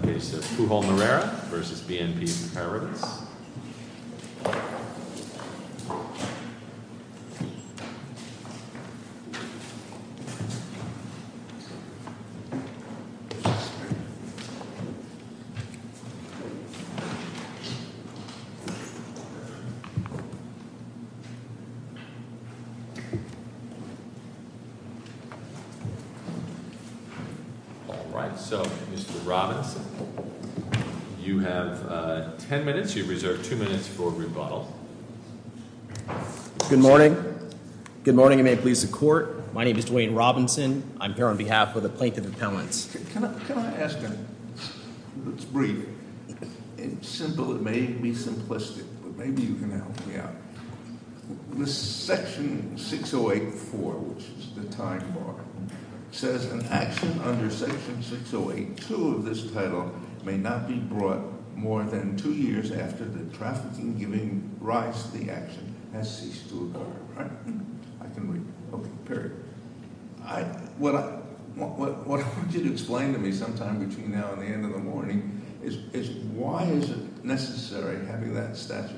Okay, so Pujol Moreira v. BNP Comparatives. All right, so Mr. Robinson, you have ten minutes. You have reserved two minutes for rebuttal. Good morning. Good morning and may it please the court. My name is Dwayne Robinson. I'm here on behalf of the Plaintiff Appellants. Can I ask a, let's brief. It's simple, it may be simplistic, but maybe you can help me out. Section 608-4, which is the time bar, says an action under Section 608-2 of this title may not be brought more than two years after the trafficking giving rights to the action has ceased to occur. All right. I can read. Okay, period. What I want you to explain to me sometime between now and the end of the morning is why is it necessary having that statute?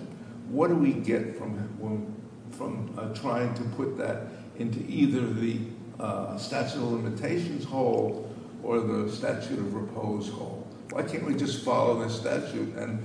What do we get from trying to put that into either the statute of limitations hold or the statute of repose hold? Why can't we just follow the statute and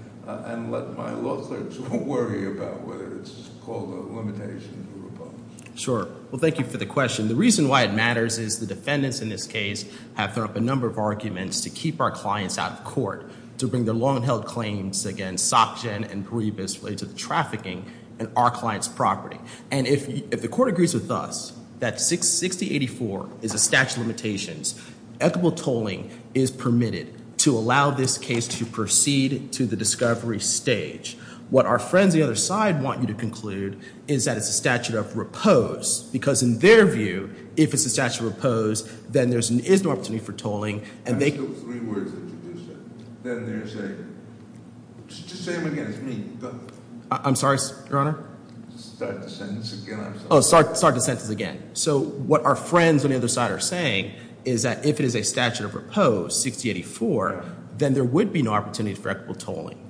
let my law clerks worry about whether it's called a limitation or repose? Sure. Well, thank you for the question. The reason why it matters is the defendants in this case have thrown up a number of arguments to keep our clients out of court, to bring their long-held claims against Sak-Chen and Paribas related to the trafficking in our client's property. And if the court agrees with us that 608-4 is a statute of limitations, equitable tolling is permitted to allow this case to proceed to the discovery stage. What our friends on the other side want you to conclude is that it's a statute of repose. Because in their view, if it's a statute of repose, then there is no opportunity for tolling and they- I still have three words to introduce it. Then there's a- just say them again. It's me. I'm sorry, Your Honor? Start the sentence again, I'm sorry. Oh, start the sentence again. So what our friends on the other side are saying is that if it is a statute of repose, 608-4, then there would be no opportunity for equitable tolling.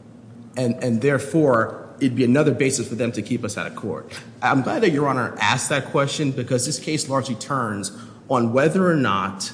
And therefore, it'd be another basis for them to keep us out of court. I'm glad that Your Honor asked that question because this case largely turns on whether or not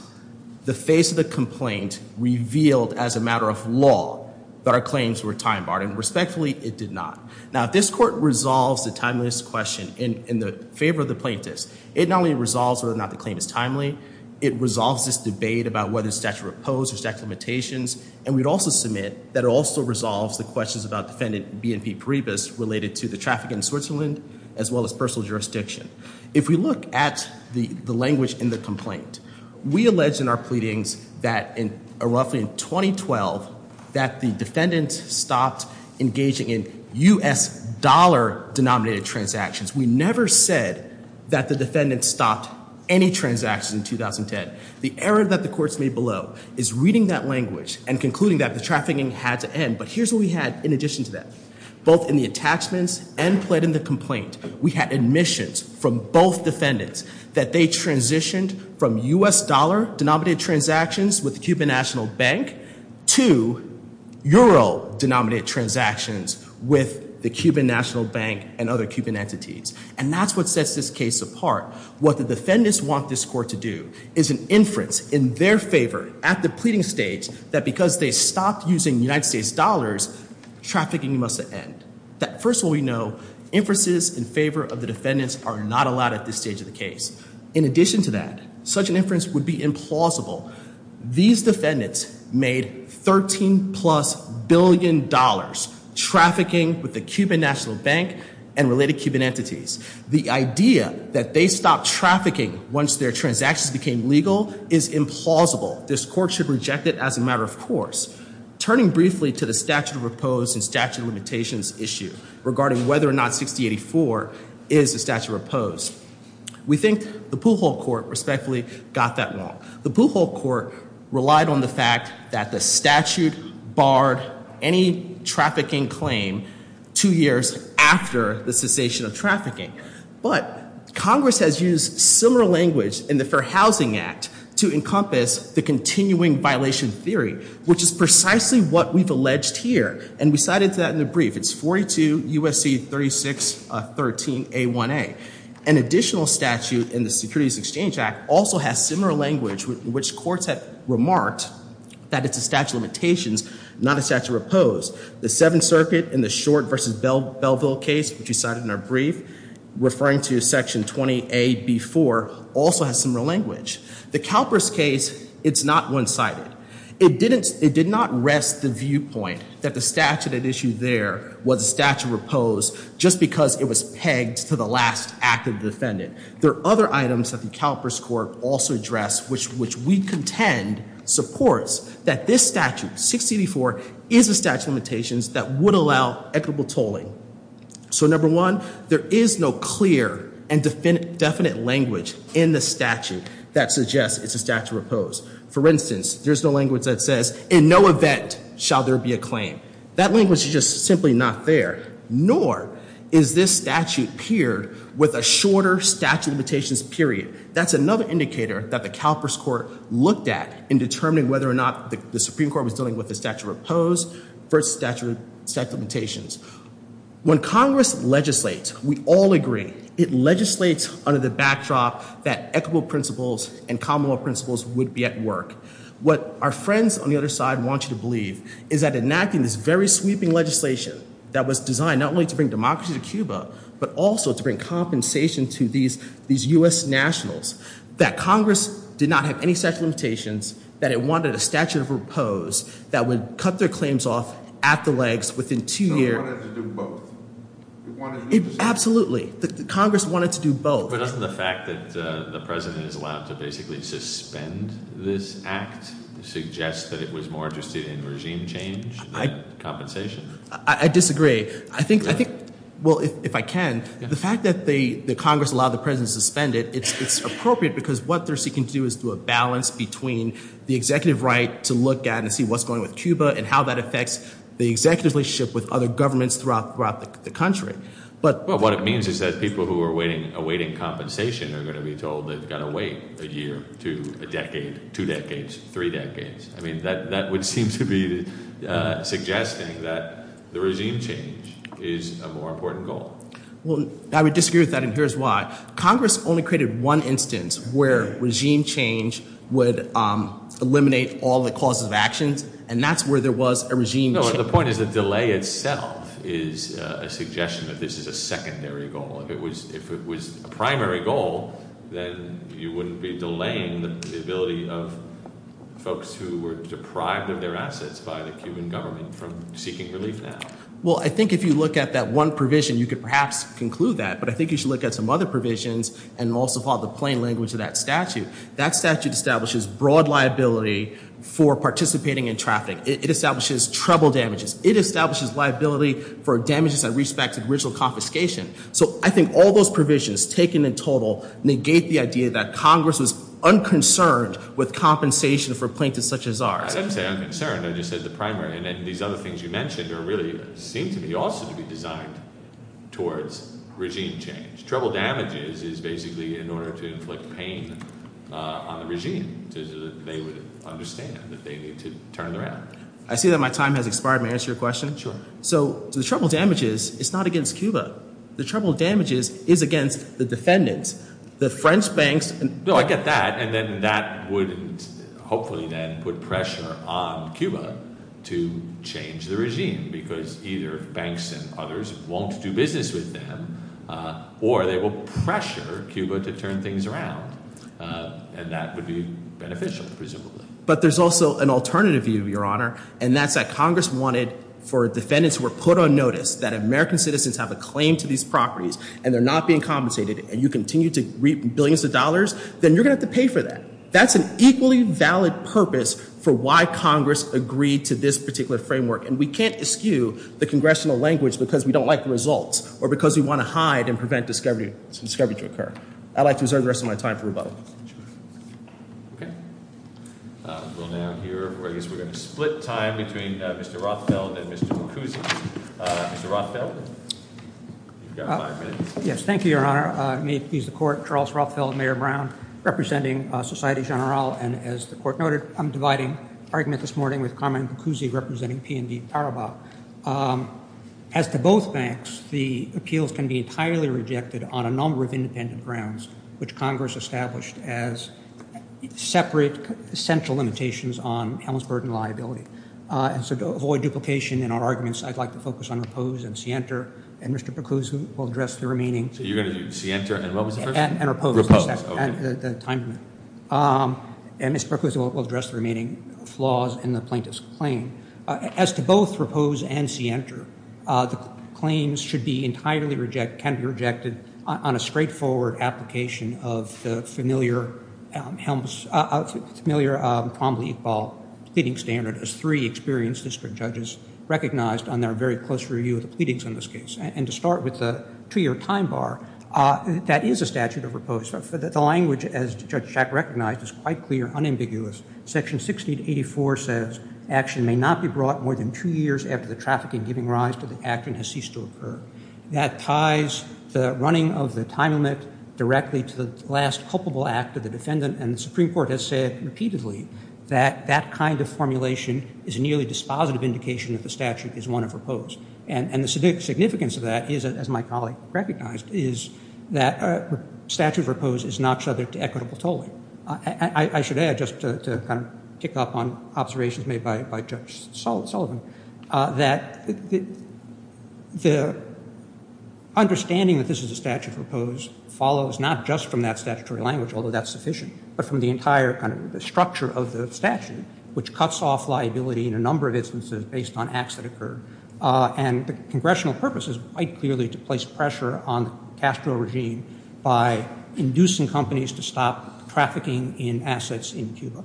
the face of the complaint revealed as a matter of law that our claims were time-barred. And respectfully, it did not. Now, if this court resolves the timeless question in the favor of the plaintiffs, it not only resolves whether or not the claim is timely, it resolves this debate about whether it's statute of repose or statute of limitations, and we'd also submit that it also resolves the questions about defendant BNP Paribas related to the traffic in Switzerland as well as personal jurisdiction. If we look at the language in the complaint, we allege in our pleadings that roughly in 2012 that the defendant stopped engaging in U.S. dollar-denominated transactions. We never said that the defendant stopped any transactions in 2010. The error that the courts made below is reading that language and concluding that the trafficking had to end. But here's what we had in addition to that. Both in the attachments and plead in the complaint, we had admissions from both defendants that they transitioned from U.S. dollar-denominated transactions with the Cuban National Bank to euro-denominated transactions with the Cuban National Bank and other Cuban entities. And that's what sets this case apart. What the defendants want this court to do is an inference in their favor at the pleading stage that because they stopped using United States dollars, trafficking must end. First of all, we know inferences in favor of the defendants are not allowed at this stage of the case. In addition to that, such an inference would be implausible. These defendants made $13-plus billion trafficking with the Cuban National Bank and related Cuban entities. The idea that they stopped trafficking once their transactions became legal is implausible. This court should reject it as a matter of course. Turning briefly to the statute of repose and statute of limitations issue regarding whether or not 6084 is a statute of repose, we think the Pujol court respectfully got that wrong. The Pujol court relied on the fact that the statute barred any trafficking claim two years after the cessation of trafficking. But Congress has used similar language in the Fair Housing Act to encompass the continuing violation theory, which is precisely what we've alleged here. And we cited that in the brief. It's 42 U.S.C. 3613A1A. An additional statute in the Securities Exchange Act also has similar language, which courts have remarked that it's a statute of limitations, not a statute of repose. The Seventh Circuit in the Short v. Belleville case, which we cited in our brief, referring to Section 20A.B.4, also has similar language. The CalPERS case, it's not one-sided. It did not rest the viewpoint that the statute at issue there was a statute of repose just because it was pegged to the last active defendant. There are other items that the CalPERS court also addressed, which we contend supports that this statute, 6084, is a statute of limitations that would allow equitable tolling. So, number one, there is no clear and definite language in the statute that suggests it's a statute of repose. For instance, there's no language that says, in no event shall there be a claim. That language is just simply not there. Nor is this statute peered with a shorter statute of limitations period. That's another indicator that the CalPERS court looked at in determining whether or not the Supreme Court was dealing with a statute of repose versus statute of limitations. When Congress legislates, we all agree, it legislates under the backdrop that equitable principles and common law principles would be at work. What our friends on the other side want you to believe is that enacting this very sweeping legislation that was designed not only to bring democracy to Cuba, but also to bring compensation to these US nationals, that Congress did not have any such limitations, that it wanted a statute of repose that would cut their claims off at the legs within two years. It wanted to do both. Absolutely. Congress wanted to do both. But doesn't the fact that the president is allowed to basically suspend this act suggest that it was more interested in regime change than compensation? I disagree. I think, well, if I can, the fact that Congress allowed the president to suspend it, it's appropriate because what they're seeking to do is to do a balance between the executive right to look at and see what's going on with Cuba and how that affects the executive relationship with other governments throughout the country. Well, what it means is that people who are awaiting compensation are going to be told they've got to wait a year, two, a decade, two decades, three decades. I mean, that would seem to be suggesting that the regime change is a more important goal. Well, I would disagree with that, and here's why. Congress only created one instance where regime change would eliminate all the causes of actions, and that's where there was a regime change. The point is the delay itself is a suggestion that this is a secondary goal. If it was a primary goal, then you wouldn't be delaying the ability of folks who were deprived of their assets by the Cuban government from seeking relief now. Well, I think if you look at that one provision, you could perhaps conclude that, but I think you should look at some other provisions and also follow the plain language of that statute. That statute establishes broad liability for participating in traffic. It establishes trouble damages. It establishes liability for damages that respect original confiscation. So I think all those provisions taken in total negate the idea that Congress was unconcerned with compensation for plaintiffs such as ours. I didn't say unconcerned. I just said the primary, and these other things you mentioned really seem to me also to be designed towards regime change. Trouble damages is basically in order to inflict pain on the regime so that they would understand that they need to turn around. I see that my time has expired. May I answer your question? Sure. So the trouble damages is not against Cuba. The trouble damages is against the defendants, the French banks. No, I get that, and then that would hopefully then put pressure on Cuba to change the regime because either banks and others won't do business with them or they will pressure Cuba to turn things around, and that would be beneficial presumably. But there's also an alternative view, Your Honor, and that's that Congress wanted for defendants who were put on notice that American citizens have a claim to these properties and they're not being compensated and you continue to reap billions of dollars, then you're going to have to pay for that. That's an equally valid purpose for why Congress agreed to this particular framework, and we can't eschew the congressional language because we don't like the results or because we want to hide and prevent discovery to occur. I'd like to reserve the rest of my time for rebuttal. Okay. We'll now hear, or I guess we're going to split time between Mr. Rothfeld and Mr. Boccuzzi. Mr. Rothfeld, you've got five minutes. Yes, thank you, Your Honor. May it please the Court, Charles Rothfeld, Mayor Brown, representing Societe Generale, and as the Court noted, I'm dividing argument this morning with Carmen Boccuzzi, representing P&D Paribas. As to both banks, the appeals can be entirely rejected on a number of independent grounds, which Congress established as separate central limitations on Helmsburg and liability. So to avoid duplication in our arguments, I'd like to focus on Repose and Sienter, and Mr. Boccuzzi will address the remaining. So you're going to do Sienter and what was the first one? And Repose. And Mr. Boccuzzi will address the remaining flaws in the plaintiff's claim. As to both Repose and Sienter, the claims should be entirely rejected, can be rejected on a straightforward application of the familiar Helms, familiar Cromley-Iqbal pleading standard as three experienced district judges recognized on their very close review of the pleadings on this case. And to start with the two-year time bar, that is a statute of repose. The language, as Judge Schack recognized, is quite clear, unambiguous. Section 1684 says action may not be brought more than two years after the trafficking giving rise to the act and has ceased to occur. That ties the running of the time limit directly to the last culpable act of the defendant, and the Supreme Court has said repeatedly that that kind of formulation is a nearly dispositive indication that the statute is one of repose. And the significance of that is, as my colleague recognized, is that statute of repose is not subject to equitable tolling. I should add, just to kind of kick up on observations made by Judge Sullivan, that the understanding that this is a statute of repose follows not just from that statutory language, although that's sufficient, but from the entire kind of structure of the statute, which cuts off liability in a number of instances based on acts that occur. And the congressional purpose is quite clearly to place pressure on Castro regime by inducing companies to stop trafficking in assets in Cuba.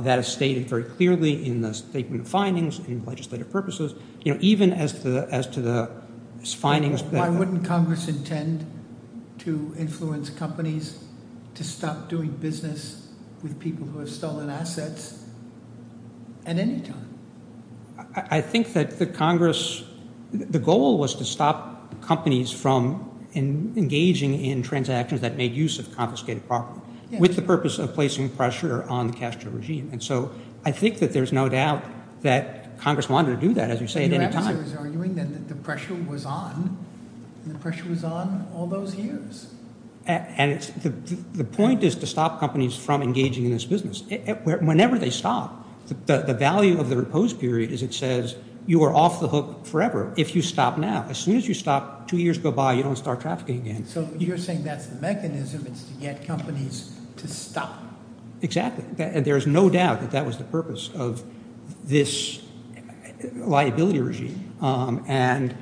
That is stated very clearly in the statement of findings, in legislative purposes. Even as to the findings that- Why wouldn't Congress intend to influence companies to stop doing business with people who have stolen assets at any time? I think that the Congress-the goal was to stop companies from engaging in transactions that made use of confiscated property with the purpose of placing pressure on the Castro regime. And so I think that there's no doubt that Congress wanted to do that, as you say, at any time. But you're actually arguing then that the pressure was on, and the pressure was on all those years. And the point is to stop companies from engaging in this business. Whenever they stop, the value of the repose period is it says you are off the hook forever if you stop now. As soon as you stop, two years go by, you don't start trafficking again. So you're saying that's the mechanism. It's to get companies to stop. Exactly. There's no doubt that that was the purpose of this liability regime. And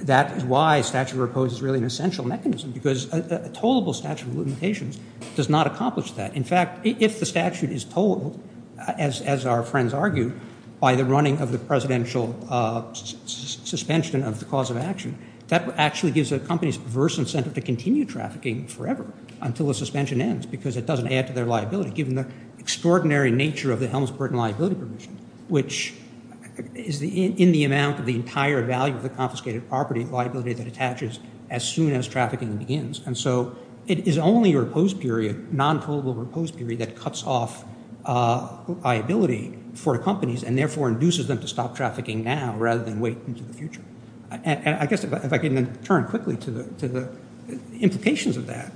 that is why statute of repose is really an essential mechanism because a tollable statute of limitations does not accomplish that. In fact, if the statute is tolled, as our friends argue, by the running of the presidential suspension of the cause of action, that actually gives the companies perverse incentive to continue trafficking forever until the suspension ends because it doesn't add to their liability, given the extraordinary nature of the Helms-Burton liability provision, which is in the amount of the entire value of the confiscated property liability that attaches as soon as trafficking begins. And so it is only a repose period, non-tollable repose period, that cuts off liability for companies and therefore induces them to stop trafficking now rather than wait into the future. And I guess if I can turn quickly to the implications of that,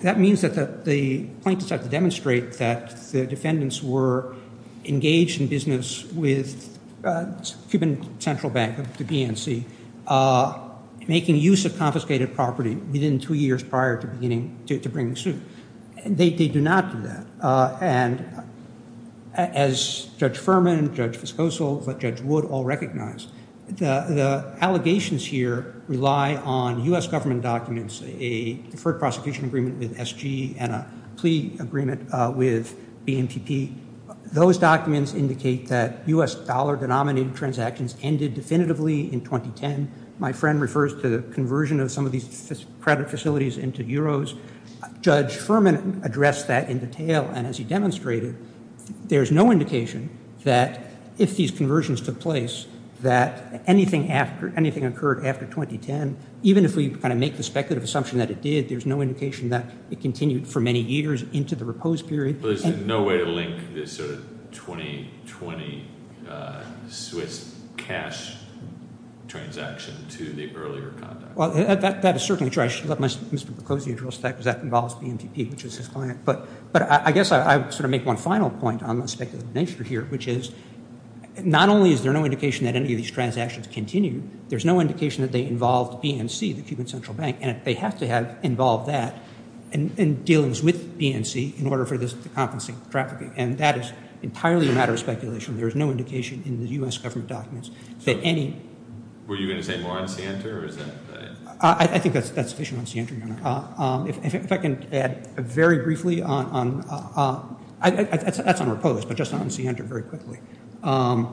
that means that the plaintiffs have to demonstrate that the defendants were engaged in business with Cuban Central Bank, the BNC, making use of confiscated property within two years prior to bringing the suit. They do not do that. And as Judge Furman, Judge Fiskosol, Judge Wood all recognize, the allegations here rely on U.S. government documents, a deferred prosecution agreement with SG and a plea agreement with BNPP. Those documents indicate that U.S. dollar denominated transactions ended definitively in 2010. My friend refers to the conversion of some of these credit facilities into euros. Judge Furman addressed that in detail, and as he demonstrated, there's no indication that if these conversions took place, that anything occurred after 2010, even if we kind of make the speculative assumption that it did, there's no indication that it continued for many years into the repose period. Well, there's no way to link this sort of 2020 Swiss cash transaction to the earlier conduct. Well, that is certainly true. I should let Mr. Percozzi address that because that involves BNPP, which is his client. But I guess I would sort of make one final point on the speculative nature here, which is not only is there no indication that any of these transactions continued, there's no indication that they involved BNC, the Cuban Central Bank, and they have to have involved that in dealings with BNC in order for this to compensate for trafficking. And that is entirely a matter of speculation. There is no indication in the U.S. government documents that any- Were you going to say more on Sienta or is that- I think that's sufficient on Sienta. If I can add very briefly on-that's on repose, but just on Sienta very quickly. That's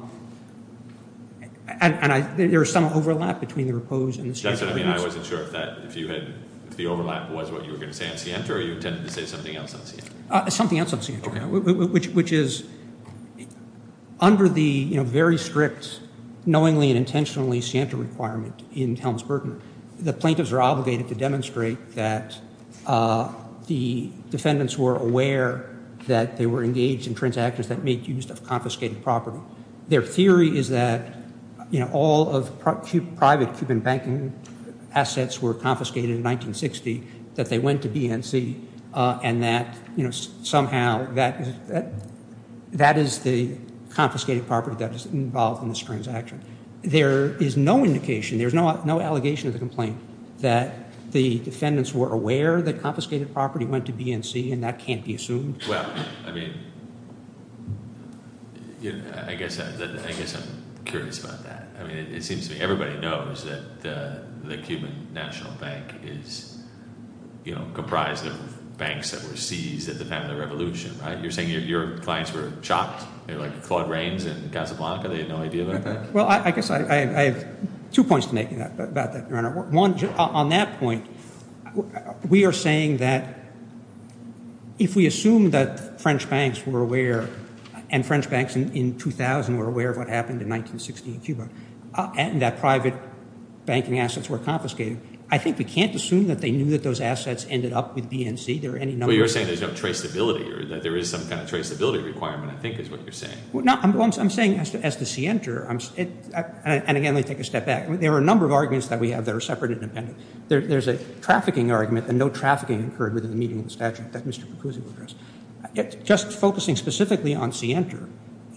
what I mean. I wasn't sure if that-if you had-if the overlap was what you were going to say on Sienta or you intended to say something else on Sienta. Something else on Sienta, which is under the very strict knowingly and intentionally Sienta requirement in Helms-Burton, the plaintiffs are obligated to demonstrate that the defendants were aware that they were engaged in transactions that made use of confiscated property. Their theory is that, you know, all of private Cuban banking assets were confiscated in 1960, that they went to BNC, and that, you know, somehow that is the confiscated property that is involved in this transaction. There is no indication, there's no allegation of the complaint, that the defendants were aware that confiscated property went to BNC, and that can't be assumed. Well, I mean, I guess I'm curious about that. I mean, it seems to me everybody knows that the Cuban National Bank is, you know, comprised of banks that were seized at the time of the revolution, right? You're saying your clients were shocked, like Claude Rains and Casablanca, they had no idea of that? Well, I guess I have two points to make about that, Your Honor. One, on that point, we are saying that if we assume that French banks were aware, and French banks in 2000 were aware of what happened in 1960 in Cuba, and that private banking assets were confiscated, I think we can't assume that they knew that those assets ended up with BNC. There are any numbers. But you're saying there's no traceability, or that there is some kind of traceability requirement, I think is what you're saying. No, I'm saying as the scienter, and again, let me take a step back. There are a number of arguments that we have that are separate and independent. There's a trafficking argument, and no trafficking occurred within the meeting of the statute that Mr. Percusi will address. Just focusing specifically on scienter,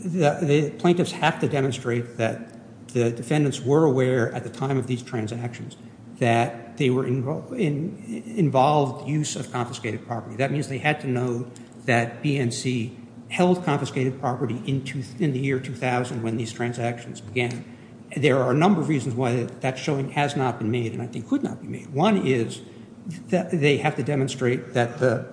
the plaintiffs have to demonstrate that the defendants were aware at the time of these transactions that they were involved in use of confiscated property. That means they had to know that BNC held confiscated property in the year 2000 when these transactions began. There are a number of reasons why that showing has not been made, and I think could not be made. One is that they have to demonstrate that the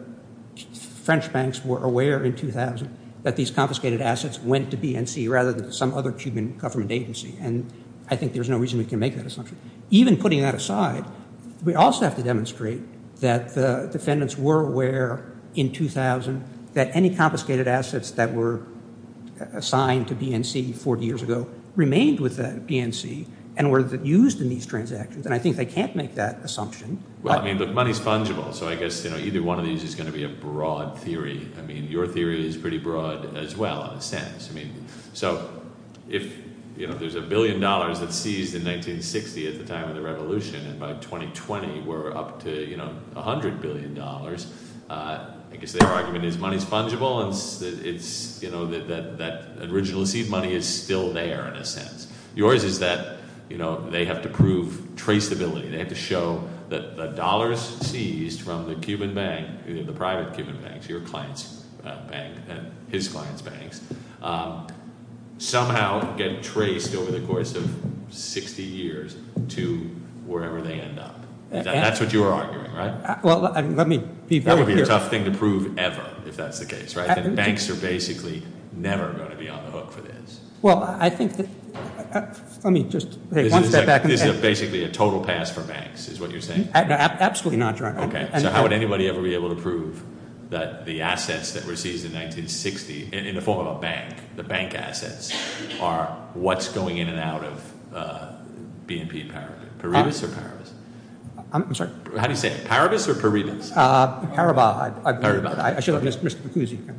French banks were aware in 2000 that these confiscated assets went to BNC rather than some other Cuban government agency, and I think there's no reason we can make that assumption. Even putting that aside, we also have to demonstrate that the defendants were aware in 2000 that any confiscated assets that were assigned to BNC 40 years ago remained with BNC and were used in these transactions, and I think they can't make that assumption. Well, I mean, look, money's fungible, so I guess either one of these is going to be a broad theory. I mean, your theory is pretty broad as well in a sense. I mean, so if there's a billion dollars that's seized in 1960 at the time of the revolution, and by 2020 we're up to $100 billion, I guess their argument is money's fungible and that originally seized money is still there in a sense. Yours is that they have to prove traceability. They have to show that the dollars seized from the Cuban bank, the private Cuban banks, your client's bank and his client's banks, somehow get traced over the course of 60 years to wherever they end up. That's what you're arguing, right? Well, let me be very clear. That would be a tough thing to prove ever if that's the case, right? Banks are basically never going to be on the hook for this. Well, I think that – let me just – This is basically a total pass for banks is what you're saying? Absolutely not, John. Okay. So how would anybody ever be able to prove that the assets that were seized in 1960, in the form of a bank, the bank assets, are what's going in and out of BNP Paribas? Paribas or Paribas? I'm sorry? How do you say it? Paribas or Paribas? Paribas. Paribas. I should let Mr. Bacuzzi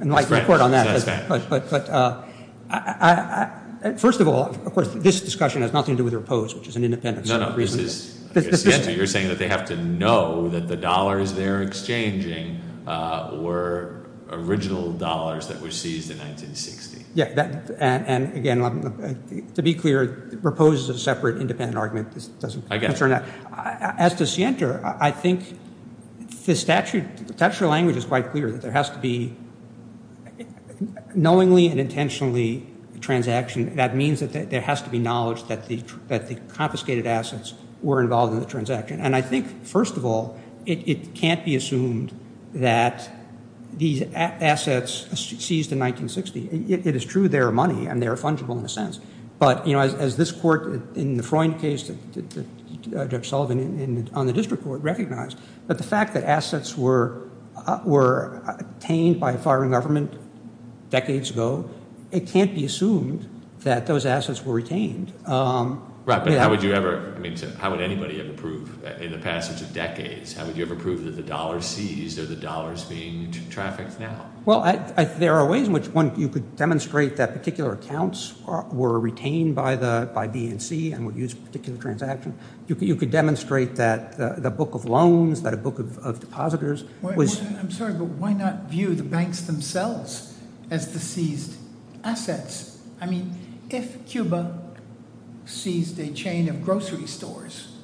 and Mike report on that. That's fine. But first of all, of course, this discussion has nothing to do with repose, which is an independent set of reasons. You're saying that they have to know that the dollars they're exchanging were original dollars that were seized in 1960. Yeah, and, again, to be clear, repose is a separate independent argument. This doesn't concern that. I get it. As to scienter, I think the statute – the statute of language is quite clear that there has to be – knowingly and intentionally transaction. That means that there has to be knowledge that the confiscated assets were involved in the transaction. And I think, first of all, it can't be assumed that these assets seized in 1960 – it is true they're money and they're fungible in a sense. But, you know, as this court in the Freund case, Judge Sullivan, on the district court recognized, but the fact that assets were obtained by a foreign government decades ago, it can't be assumed that those assets were retained. Right, but how would you ever – I mean, how would anybody ever prove in the passage of decades, how would you ever prove that the dollars seized or the dollars being trafficked now? Well, there are ways in which one – you could demonstrate that particular accounts were retained by BNC and would use a particular transaction. You could demonstrate that the book of loans, that a book of depositors was – I'm sorry, but why not view the banks themselves as the seized assets? I mean, if Cuba seized a chain of grocery stores,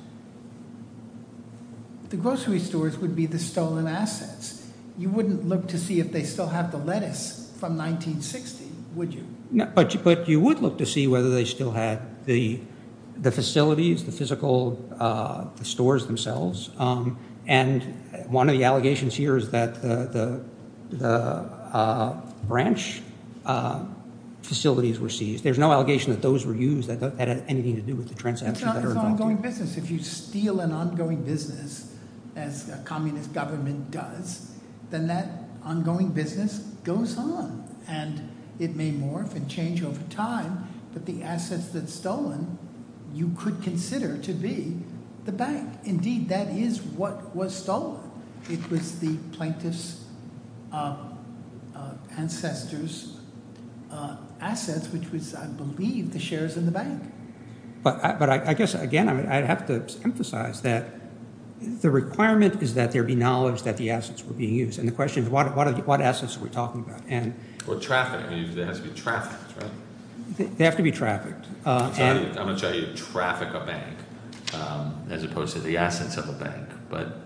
the grocery stores would be the stolen assets. You wouldn't look to see if they still have the lettuce from 1960, would you? No, but you would look to see whether they still had the facilities, the physical stores themselves. And one of the allegations here is that the branch facilities were seized. There's no allegation that those were used that had anything to do with the transactions that are involved. It's an ongoing business. If you steal an ongoing business as a communist government does, then that ongoing business goes on, and it may morph and change over time, but the assets that's stolen you could consider to be the bank. Indeed, that is what was stolen. It was the plaintiff's ancestor's assets, which was, I believe, the shares in the bank. But I guess, again, I have to emphasize that the requirement is that there be knowledge that the assets were being used. And the question is, what assets are we talking about? Or traffic. They have to be trafficked, right? They have to be trafficked. I'm going to try to traffic a bank as opposed to the assets of a bank. But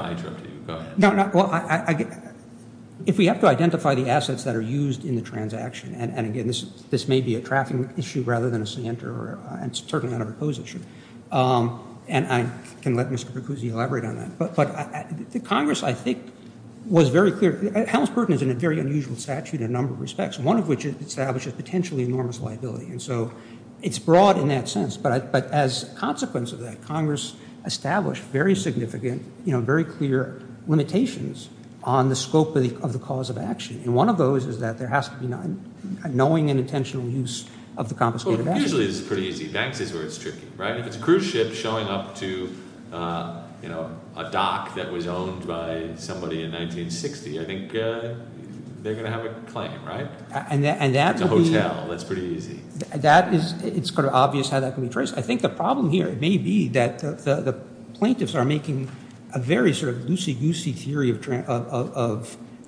I interrupted you. Go ahead. Well, if we have to identify the assets that are used in the transaction, and, again, this may be a traffic issue rather than a center, and it's certainly not a repose issue, and I can let Mr. Bercuzzi elaborate on that. But the Congress, I think, was very clear. Helms-Burton is in a very unusual statute in a number of respects, one of which establishes potentially enormous liability. And so it's broad in that sense. But as a consequence of that, Congress established very significant, very clear limitations on the scope of the cause of action. And one of those is that there has to be knowing and intentional use of the confiscated assets. Well, usually this is pretty easy. Banks is where it's tricky, right? If it's a cruise ship showing up to a dock that was owned by somebody in 1960, I think they're going to have a claim, right? It's a hotel. That's pretty easy. It's sort of obvious how that can be traced. I think the problem here may be that the plaintiffs are making a very sort of loosey-goosey theory of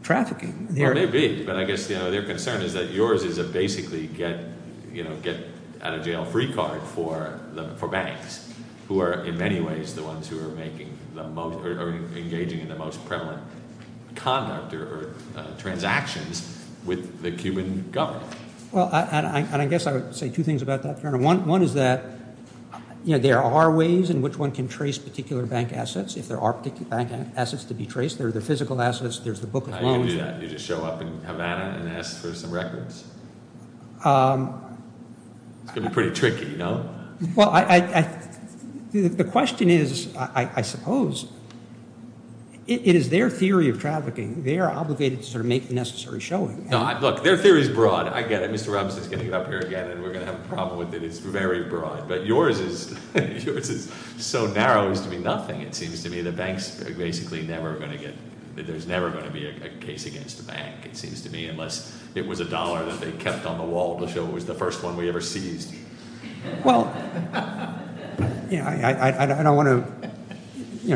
trafficking. Well, maybe. But I guess their concern is that yours is a basically get-out-of-jail-free card for banks, who are in many ways the ones who are engaging in the most prevalent conduct or transactions with the Cuban government. Well, and I guess I would say two things about that, Colonel. One is that there are ways in which one can trace particular bank assets. If there are particular bank assets to be traced, there are the physical assets, there's the book of loans. You don't do that. You just show up in Havana and ask for some records. It's going to be pretty tricky, no? Well, the question is, I suppose, it is their theory of trafficking. They are obligated to sort of make the necessary showing. Look, their theory is broad. I get it. Mr. Robinson is getting up here again, and we're going to have a problem with it. It's very broad. But yours is so narrow as to be nothing, it seems to me. There's never going to be a case against a bank, it seems to me, unless it was a dollar that they kept on the wall to show it was the first one we ever seized. Well, I don't want to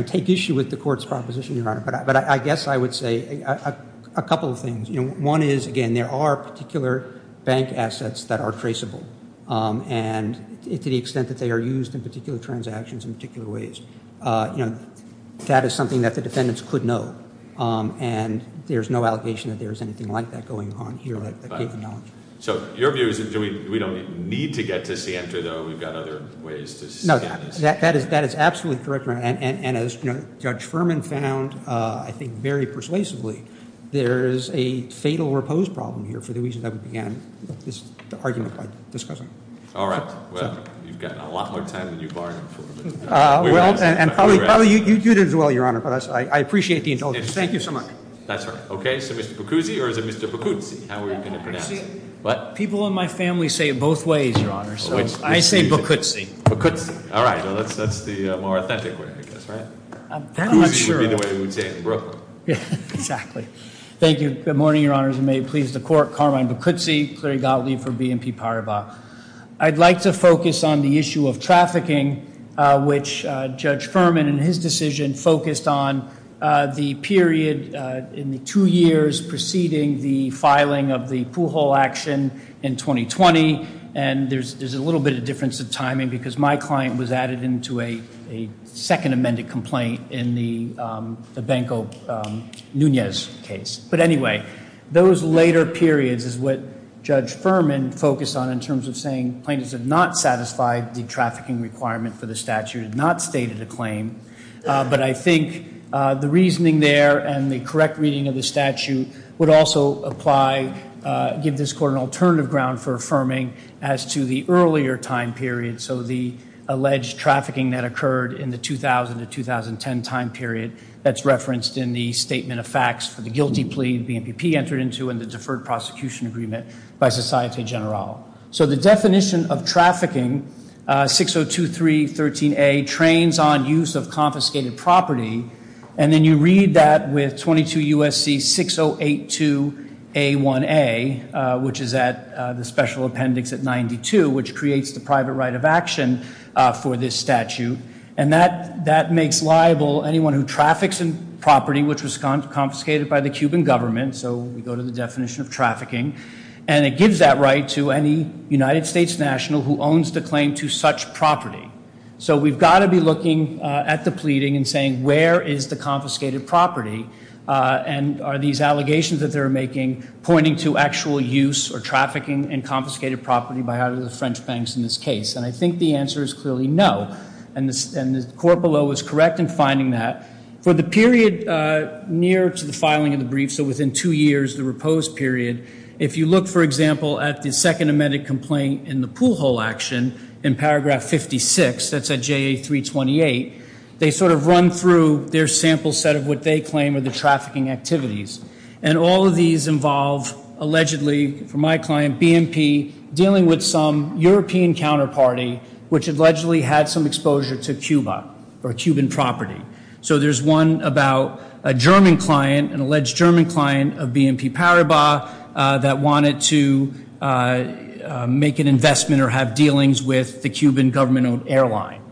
take issue with the Court's proposition, Your Honor, but I guess I would say a couple of things. One is, again, there are particular bank assets that are traceable, and to the extent that they are used in particular transactions in particular ways. That is something that the defendants could know, and there's no allegation that there's anything like that going on here that they do not. So your view is that we don't need to get to Sienta, though? We've got other ways to scan this. No, that is absolutely correct, Your Honor. And as Judge Furman found, I think very persuasively, there is a fatal repose problem here for the reason that we began this argument by discussing. All right. Well, you've got a lot more time than you bargained for. Well, and probably you do as well, Your Honor, but I appreciate the indulgence. Thank you so much. That's all right. Okay, so Mr. Boccuzzi or is it Mr. Boccuzzi? How are you going to pronounce it? Boccuzzi. What? People in my family say it both ways, Your Honor, so I say Boccuzzi. Boccuzzi. All right. Well, that's the more authentic way, I guess, right? I'm not sure. Boccuzzi would be the way we would say it in Brooklyn. Exactly. Thank you. Good morning, Your Honors, and may it please the Court. Carmine Boccuzzi, Cleary Gottlieb for BNP Paribas. I'd like to focus on the issue of trafficking, which Judge Furman in his decision focused on the period in the two years preceding the filing of the Pujol action in 2020, and there's a little bit of difference of timing because my client was added into a second amended complaint in the Banco Nunez case. But anyway, those later periods is what Judge Furman focused on in terms of saying plaintiffs have not satisfied the trafficking requirement for the statute, have not stated a claim, but I think the reasoning there and the correct reading of the statute would also apply, give this Court an alternative ground for affirming as to the earlier time period, so the alleged trafficking that occurred in the 2000 to 2010 time period that's referenced in the statement of facts for the guilty plea BNPP entered into and the deferred prosecution agreement by Societe Generale. So the definition of trafficking, 602313A, trains on use of confiscated property, and then you read that with 22 U.S.C. 6082A1A, which is at the special appendix at 92, which creates the private right of action for this statute, and that makes liable anyone who traffics in property which was confiscated by the Cuban government, so we go to the definition of trafficking, and it gives that right to any United States national who owns the claim to such property. So we've got to be looking at the pleading and saying where is the confiscated property, and are these allegations that they're making pointing to actual use or trafficking in confiscated property by either the French banks in this case, and I think the answer is clearly no, and the Court below is correct in finding that. For the period near to the filing of the brief, so within two years, the repose period, if you look, for example, at the second amended complaint in the pool hole action in paragraph 56, that's at JA 328, they sort of run through their sample set of what they claim are the trafficking activities, and all of these involve allegedly, for my client, BNP, dealing with some European counterparty, which allegedly had some exposure to Cuba or Cuban property. So there's one about a German client, an alleged German client of BNP Paribas that wanted to make an investment or have dealings with the Cuban government-owned airline.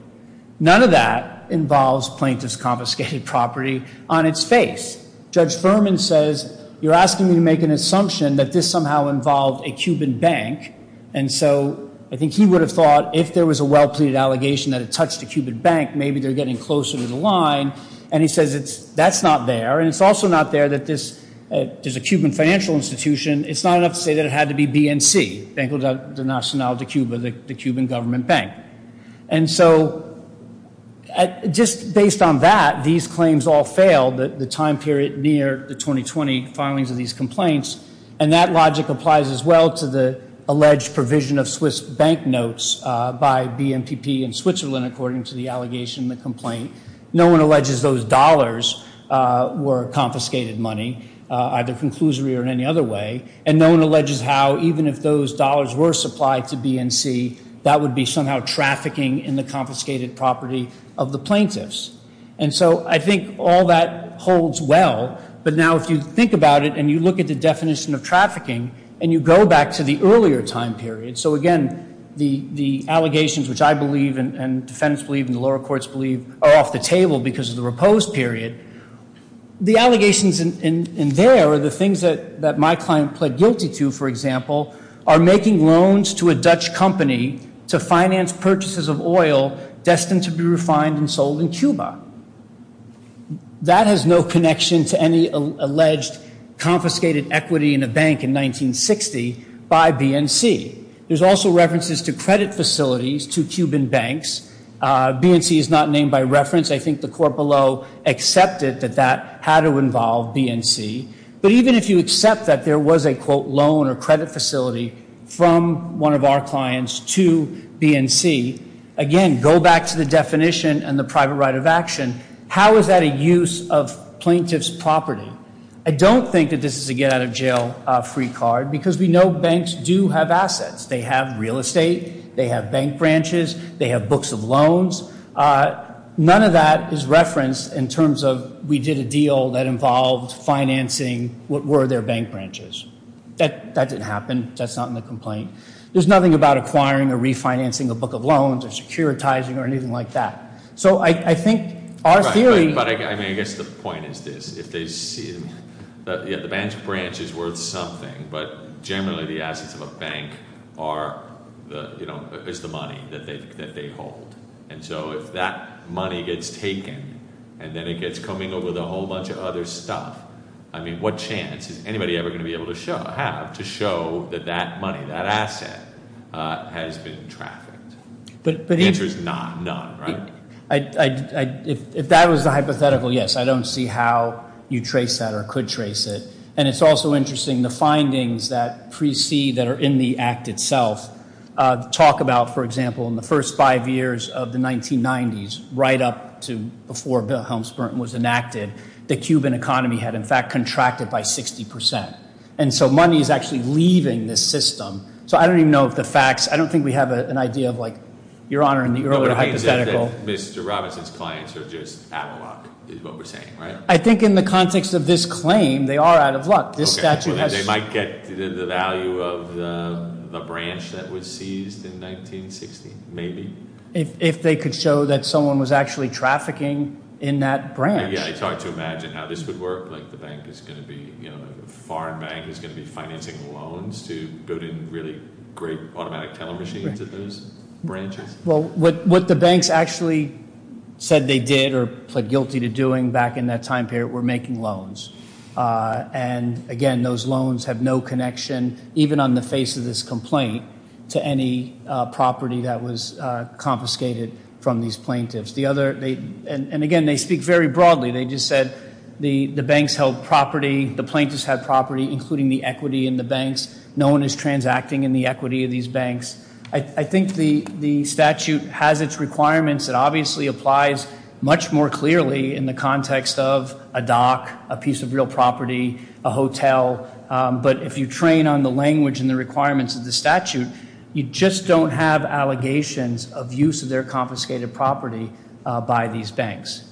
None of that involves plaintiff's confiscated property on its face. Judge Furman says you're asking me to make an assumption that this somehow involved a Cuban bank, and so I think he would have thought if there was a well-pleaded allegation that it touched a Cuban bank, maybe they're getting closer to the line, and he says that's not there, and it's also not there that there's a Cuban financial institution. It's not enough to say that it had to be BNC, Banco Nacional de Cuba, the Cuban government bank. And so just based on that, these claims all fail the time period near the 2020 filings of these complaints, and that logic applies as well to the alleged provision of Swiss bank notes by BNPP in Switzerland, according to the allegation in the complaint. No one alleges those dollars were confiscated money, either conclusively or in any other way, and no one alleges how even if those dollars were supplied to BNC, that would be somehow trafficking in the confiscated property of the plaintiffs. And so I think all that holds well, but now if you think about it and you look at the definition of trafficking and you go back to the earlier time period, so again, the allegations which I believe and defendants believe and the lower courts believe are off the table because of the repose period, the allegations in there are the things that my client pled guilty to, for example, are making loans to a Dutch company to finance purchases of oil destined to be refined and sold in Cuba. That has no connection to any alleged confiscated equity in a bank in 1960 by BNC. There's also references to credit facilities to Cuban banks. BNC is not named by reference. I think the court below accepted that that had to involve BNC. But even if you accept that there was a, quote, loan or credit facility from one of our clients to BNC, again, go back to the definition and the private right of action, how is that a use of plaintiff's property? I don't think that this is a get out of jail free card because we know banks do have assets. They have real estate. They have bank branches. They have books of loans. None of that is referenced in terms of we did a deal that involved financing what were their bank branches. That didn't happen. That's not in the complaint. There's nothing about acquiring or refinancing a book of loans or securitizing or anything like that. So I think our theory- Right, but I mean, I guess the point is this. If they see, yeah, the bank's branch is worth something, but generally the assets of a bank are, you know, is the money that they hold. And so if that money gets taken and then it gets coming over with a whole bunch of other stuff, I mean, what chance is anybody ever going to be able to have to show that that money, that asset, has been trafficked? The answer is none, right? If that was the hypothetical, yes. I don't see how you trace that or could trace it. And it's also interesting, the findings that precede, that are in the act itself, talk about, for example, in the first five years of the 1990s, right up to before Bill Helms-Burton was enacted, the Cuban economy had, in fact, contracted by 60%. And so money is actually leaving this system. So I don't even know if the facts, I don't think we have an idea of like, Your Honor, in the earlier hypothetical- What it means is that Mr. Robinson's clients are just out of luck, is what we're saying, right? I think in the context of this claim, they are out of luck. They might get the value of the branch that was seized in 1960, maybe. If they could show that someone was actually trafficking in that branch. Yeah, I try to imagine how this would work, like the bank is going to be, you know, the foreign bank is going to be financing loans to put in really great automatic teller machines at those branches. Well, what the banks actually said they did or pled guilty to doing back in that time period were making loans. And again, those loans have no connection, even on the face of this complaint, to any property that was confiscated from these plaintiffs. And again, they speak very broadly. They just said the banks held property, the plaintiffs had property, including the equity in the banks. No one is transacting in the equity of these banks. I think the statute has its requirements. It obviously applies much more clearly in the context of a dock, a piece of real property, a hotel. But if you train on the language and the requirements of the statute, you just don't have allegations of use of their confiscated property by these banks.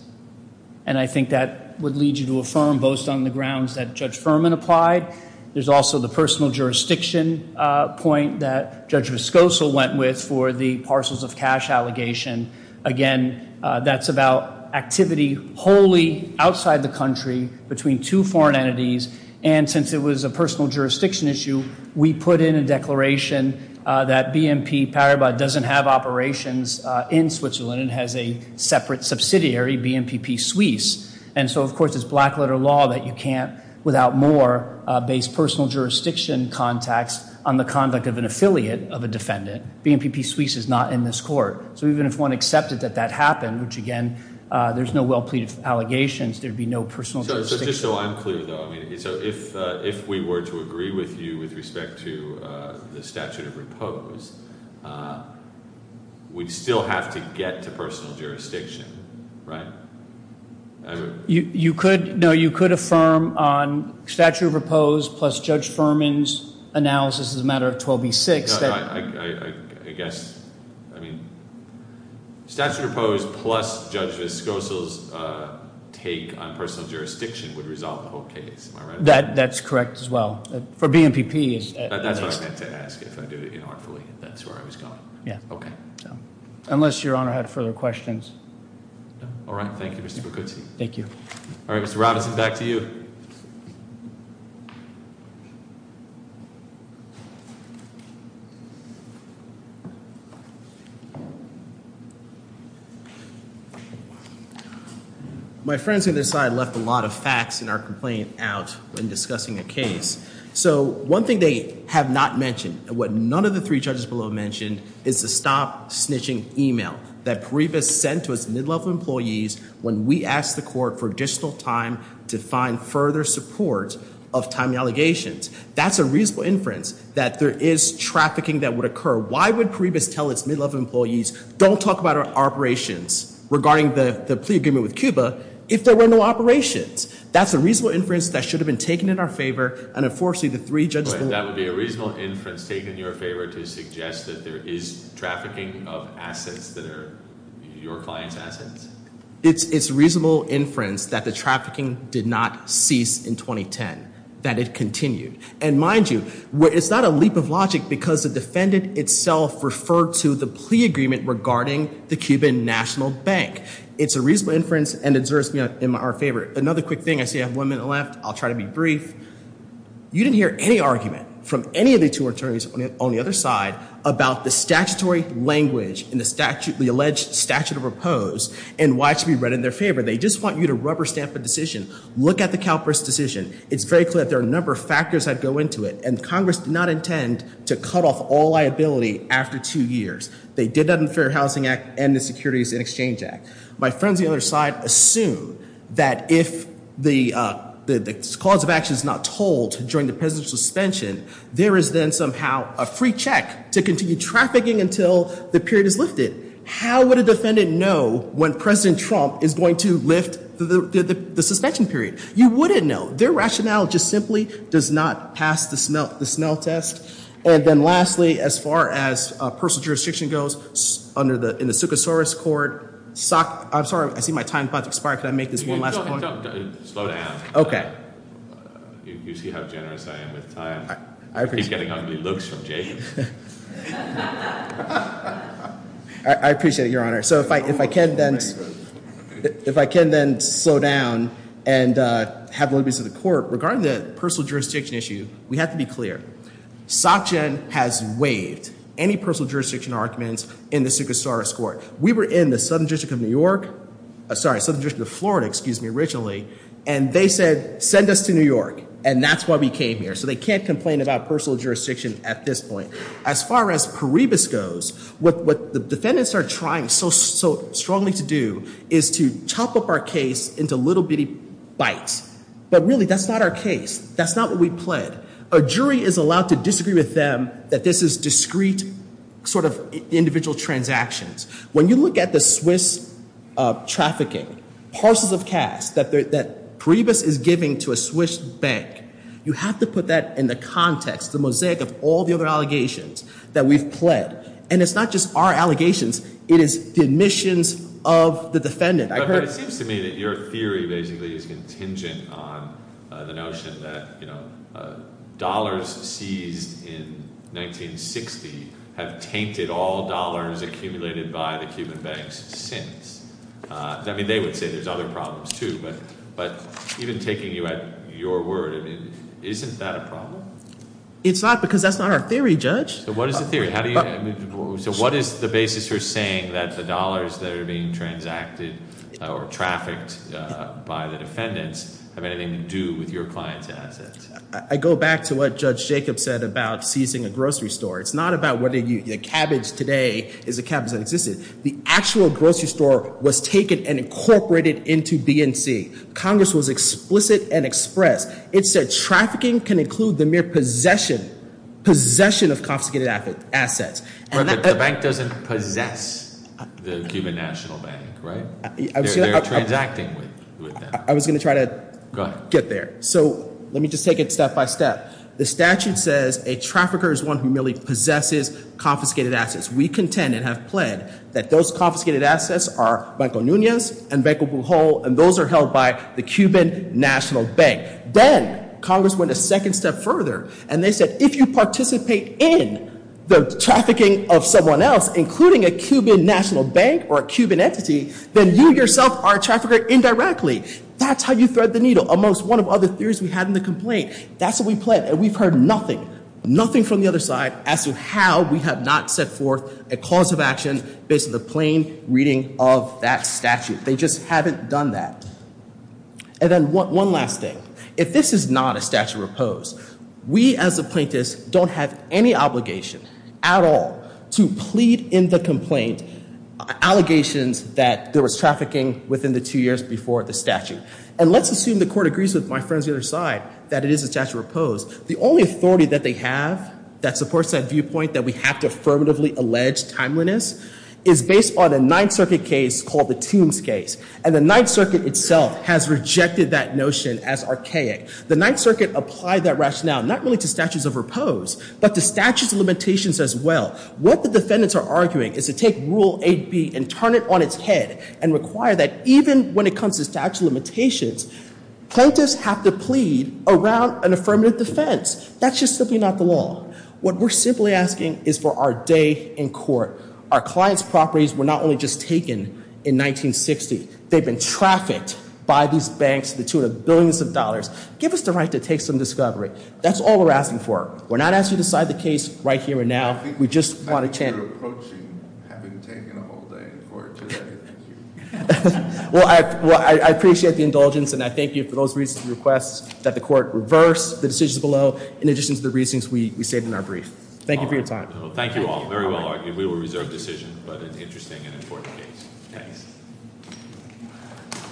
And I think that would lead you to affirm both on the grounds that Judge Furman applied. There's also the personal jurisdiction point that Judge Vescoso went with for the parcels of cash allegation. Again, that's about activity wholly outside the country between two foreign entities. And since it was a personal jurisdiction issue, we put in a declaration that BNP Paribas doesn't have operations in Switzerland. It has a separate subsidiary, BNPP Suisse. And so, of course, it's black letter law that you can't, without more, base personal jurisdiction contacts on the conduct of an affiliate of a defendant. BNPP Suisse is not in this court. So even if one accepted that that happened, which, again, there's no well-pleaded allegations, there'd be no personal jurisdiction. So just so I'm clear, though, if we were to agree with you with respect to the statute of repose, we'd still have to get to personal jurisdiction, right? You could, no, you could affirm on statute of repose plus Judge Furman's analysis as a matter of 12B6. I guess, I mean, statute of repose plus Judge Vescoso's take on personal jurisdiction would resolve the whole case, am I right? That's correct as well, for BNPP. That's what I meant to ask, if I do it inartfully, if that's where I was going. Yeah. Okay. Unless your Honor had further questions. No. All right. Thank you, Mr. Bucuzzi. Thank you. All right, Mr. Robinson, back to you. My friends on this side left a lot of facts in our complaint out when discussing the case. So one thing they have not mentioned and what none of the three judges below mentioned is the stop snitching email that Paribas sent to its mid-level employees when we asked the court for additional time to find further support of timely allegations. That's a reasonable inference that there is trafficking that would occur. Why would Paribas tell its mid-level employees don't talk about our operations regarding the plea agreement with Cuba if there were no operations? That's a reasonable inference that should have been taken in our favor and, unfortunately, the three judges below. That would be a reasonable inference taken in your favor to suggest that there is trafficking of assets that are your client's assets? It's a reasonable inference that the trafficking did not cease in 2010, that it continued. And mind you, it's not a leap of logic because the defendant itself referred to the plea agreement regarding the Cuban National Bank. It's a reasonable inference and deserves to be in our favor. Another quick thing, I see I have one minute left. I'll try to be brief. You didn't hear any argument from any of the two attorneys on the other side about the statutory language in the alleged statute of repose and why it should be read in their favor. They just want you to rubber stamp a decision. Look at the CalPERS decision. It's very clear that there are a number of factors that go into it, and Congress did not intend to cut off all liability after two years. They did that in the Fair Housing Act and the Securities and Exchange Act. My friends on the other side assume that if the cause of action is not told during the president's suspension, there is then somehow a free check to continue trafficking until the period is lifted. How would a defendant know when President Trump is going to lift the suspension period? You wouldn't know. Their rationale just simply does not pass the smell test. And then lastly, as far as personal jurisdiction goes, in the Succasaurus Court, I'm sorry, I see my time is about to expire. Can I make this one last point? Slow down. Okay. You see how generous I am with time. I appreciate it. I keep getting ugly looks from Jacob. I appreciate it, Your Honor. So if I can then slow down and have liberties of the court, regarding the personal jurisdiction issue, we have to be clear. SOCGEN has waived any personal jurisdiction arguments in the Succasaurus Court. We were in the Southern District of New York, sorry, Southern District of Florida, excuse me, originally, and they said send us to New York, and that's why we came here. So they can't complain about personal jurisdiction at this point. As far as Paribas goes, what the defendants are trying so strongly to do is to chop up our case into little bitty bites. But really, that's not our case. That's not what we pled. A jury is allowed to disagree with them that this is discrete sort of individual transactions. When you look at the Swiss trafficking, parcels of cash that Paribas is giving to a Swiss bank, you have to put that in the context, the mosaic of all the other allegations that we've pled. And it's not just our allegations. It is the admissions of the defendant. But it seems to me that your theory basically is contingent on the notion that dollars seized in 1960 have tainted all dollars accumulated by the Cuban banks since. I mean they would say there's other problems too, but even taking you at your word, isn't that a problem? It's not because that's not our theory, Judge. So what is the theory? Or trafficked by the defendants have anything to do with your client's assets? I go back to what Judge Jacobs said about seizing a grocery store. It's not about whether the cabbage today is a cabbage that existed. The actual grocery store was taken and incorporated into BNC. Congress was explicit and expressed. It said trafficking can include the mere possession, possession of confiscated assets. But the bank doesn't possess the Cuban National Bank, right? They're transacting with them. I was going to try to get there. So let me just take it step by step. The statute says a trafficker is one who merely possesses confiscated assets. We contend and have pled that those confiscated assets are Banco Nunez and Banco Pujol, and those are held by the Cuban National Bank. Then Congress went a second step further, and they said if you participate in the trafficking of someone else, including a Cuban National Bank or a Cuban entity, then you yourself are a trafficker indirectly. That's how you thread the needle, amongst one of other theories we had in the complaint. That's what we pled, and we've heard nothing, nothing from the other side, as to how we have not set forth a cause of action based on the plain reading of that statute. They just haven't done that. And then one last thing. If this is not a statute of repose, we as a plaintiff don't have any obligation at all to plead in the complaint allegations that there was trafficking within the two years before the statute. And let's assume the court agrees with my friends on the other side that it is a statute of repose. The only authority that they have that supports that viewpoint that we have to affirmatively allege timeliness is based on a Ninth Circuit case called the Toomes case. And the Ninth Circuit itself has rejected that notion as archaic. The Ninth Circuit applied that rationale not really to statutes of repose, but to statutes of limitations as well. What the defendants are arguing is to take Rule 8B and turn it on its head and require that even when it comes to statute of limitations, plaintiffs have to plead around an affirmative defense. That's just simply not the law. Our clients' properties were not only just taken in 1960. They've been trafficked by these banks to the tune of billions of dollars. Give us the right to take some discovery. That's all we're asking for. We're not asking you to decide the case right here and now. We just want a chance- I think you're approaching having taken a whole day in court today. Well, I appreciate the indulgence, and I thank you for those recent requests that the court reverse the decisions below in addition to the reasons we stated in our brief. Thank you for your time. Thank you all. Very well argued. We will reserve decision, but it's an interesting and important case. Thanks.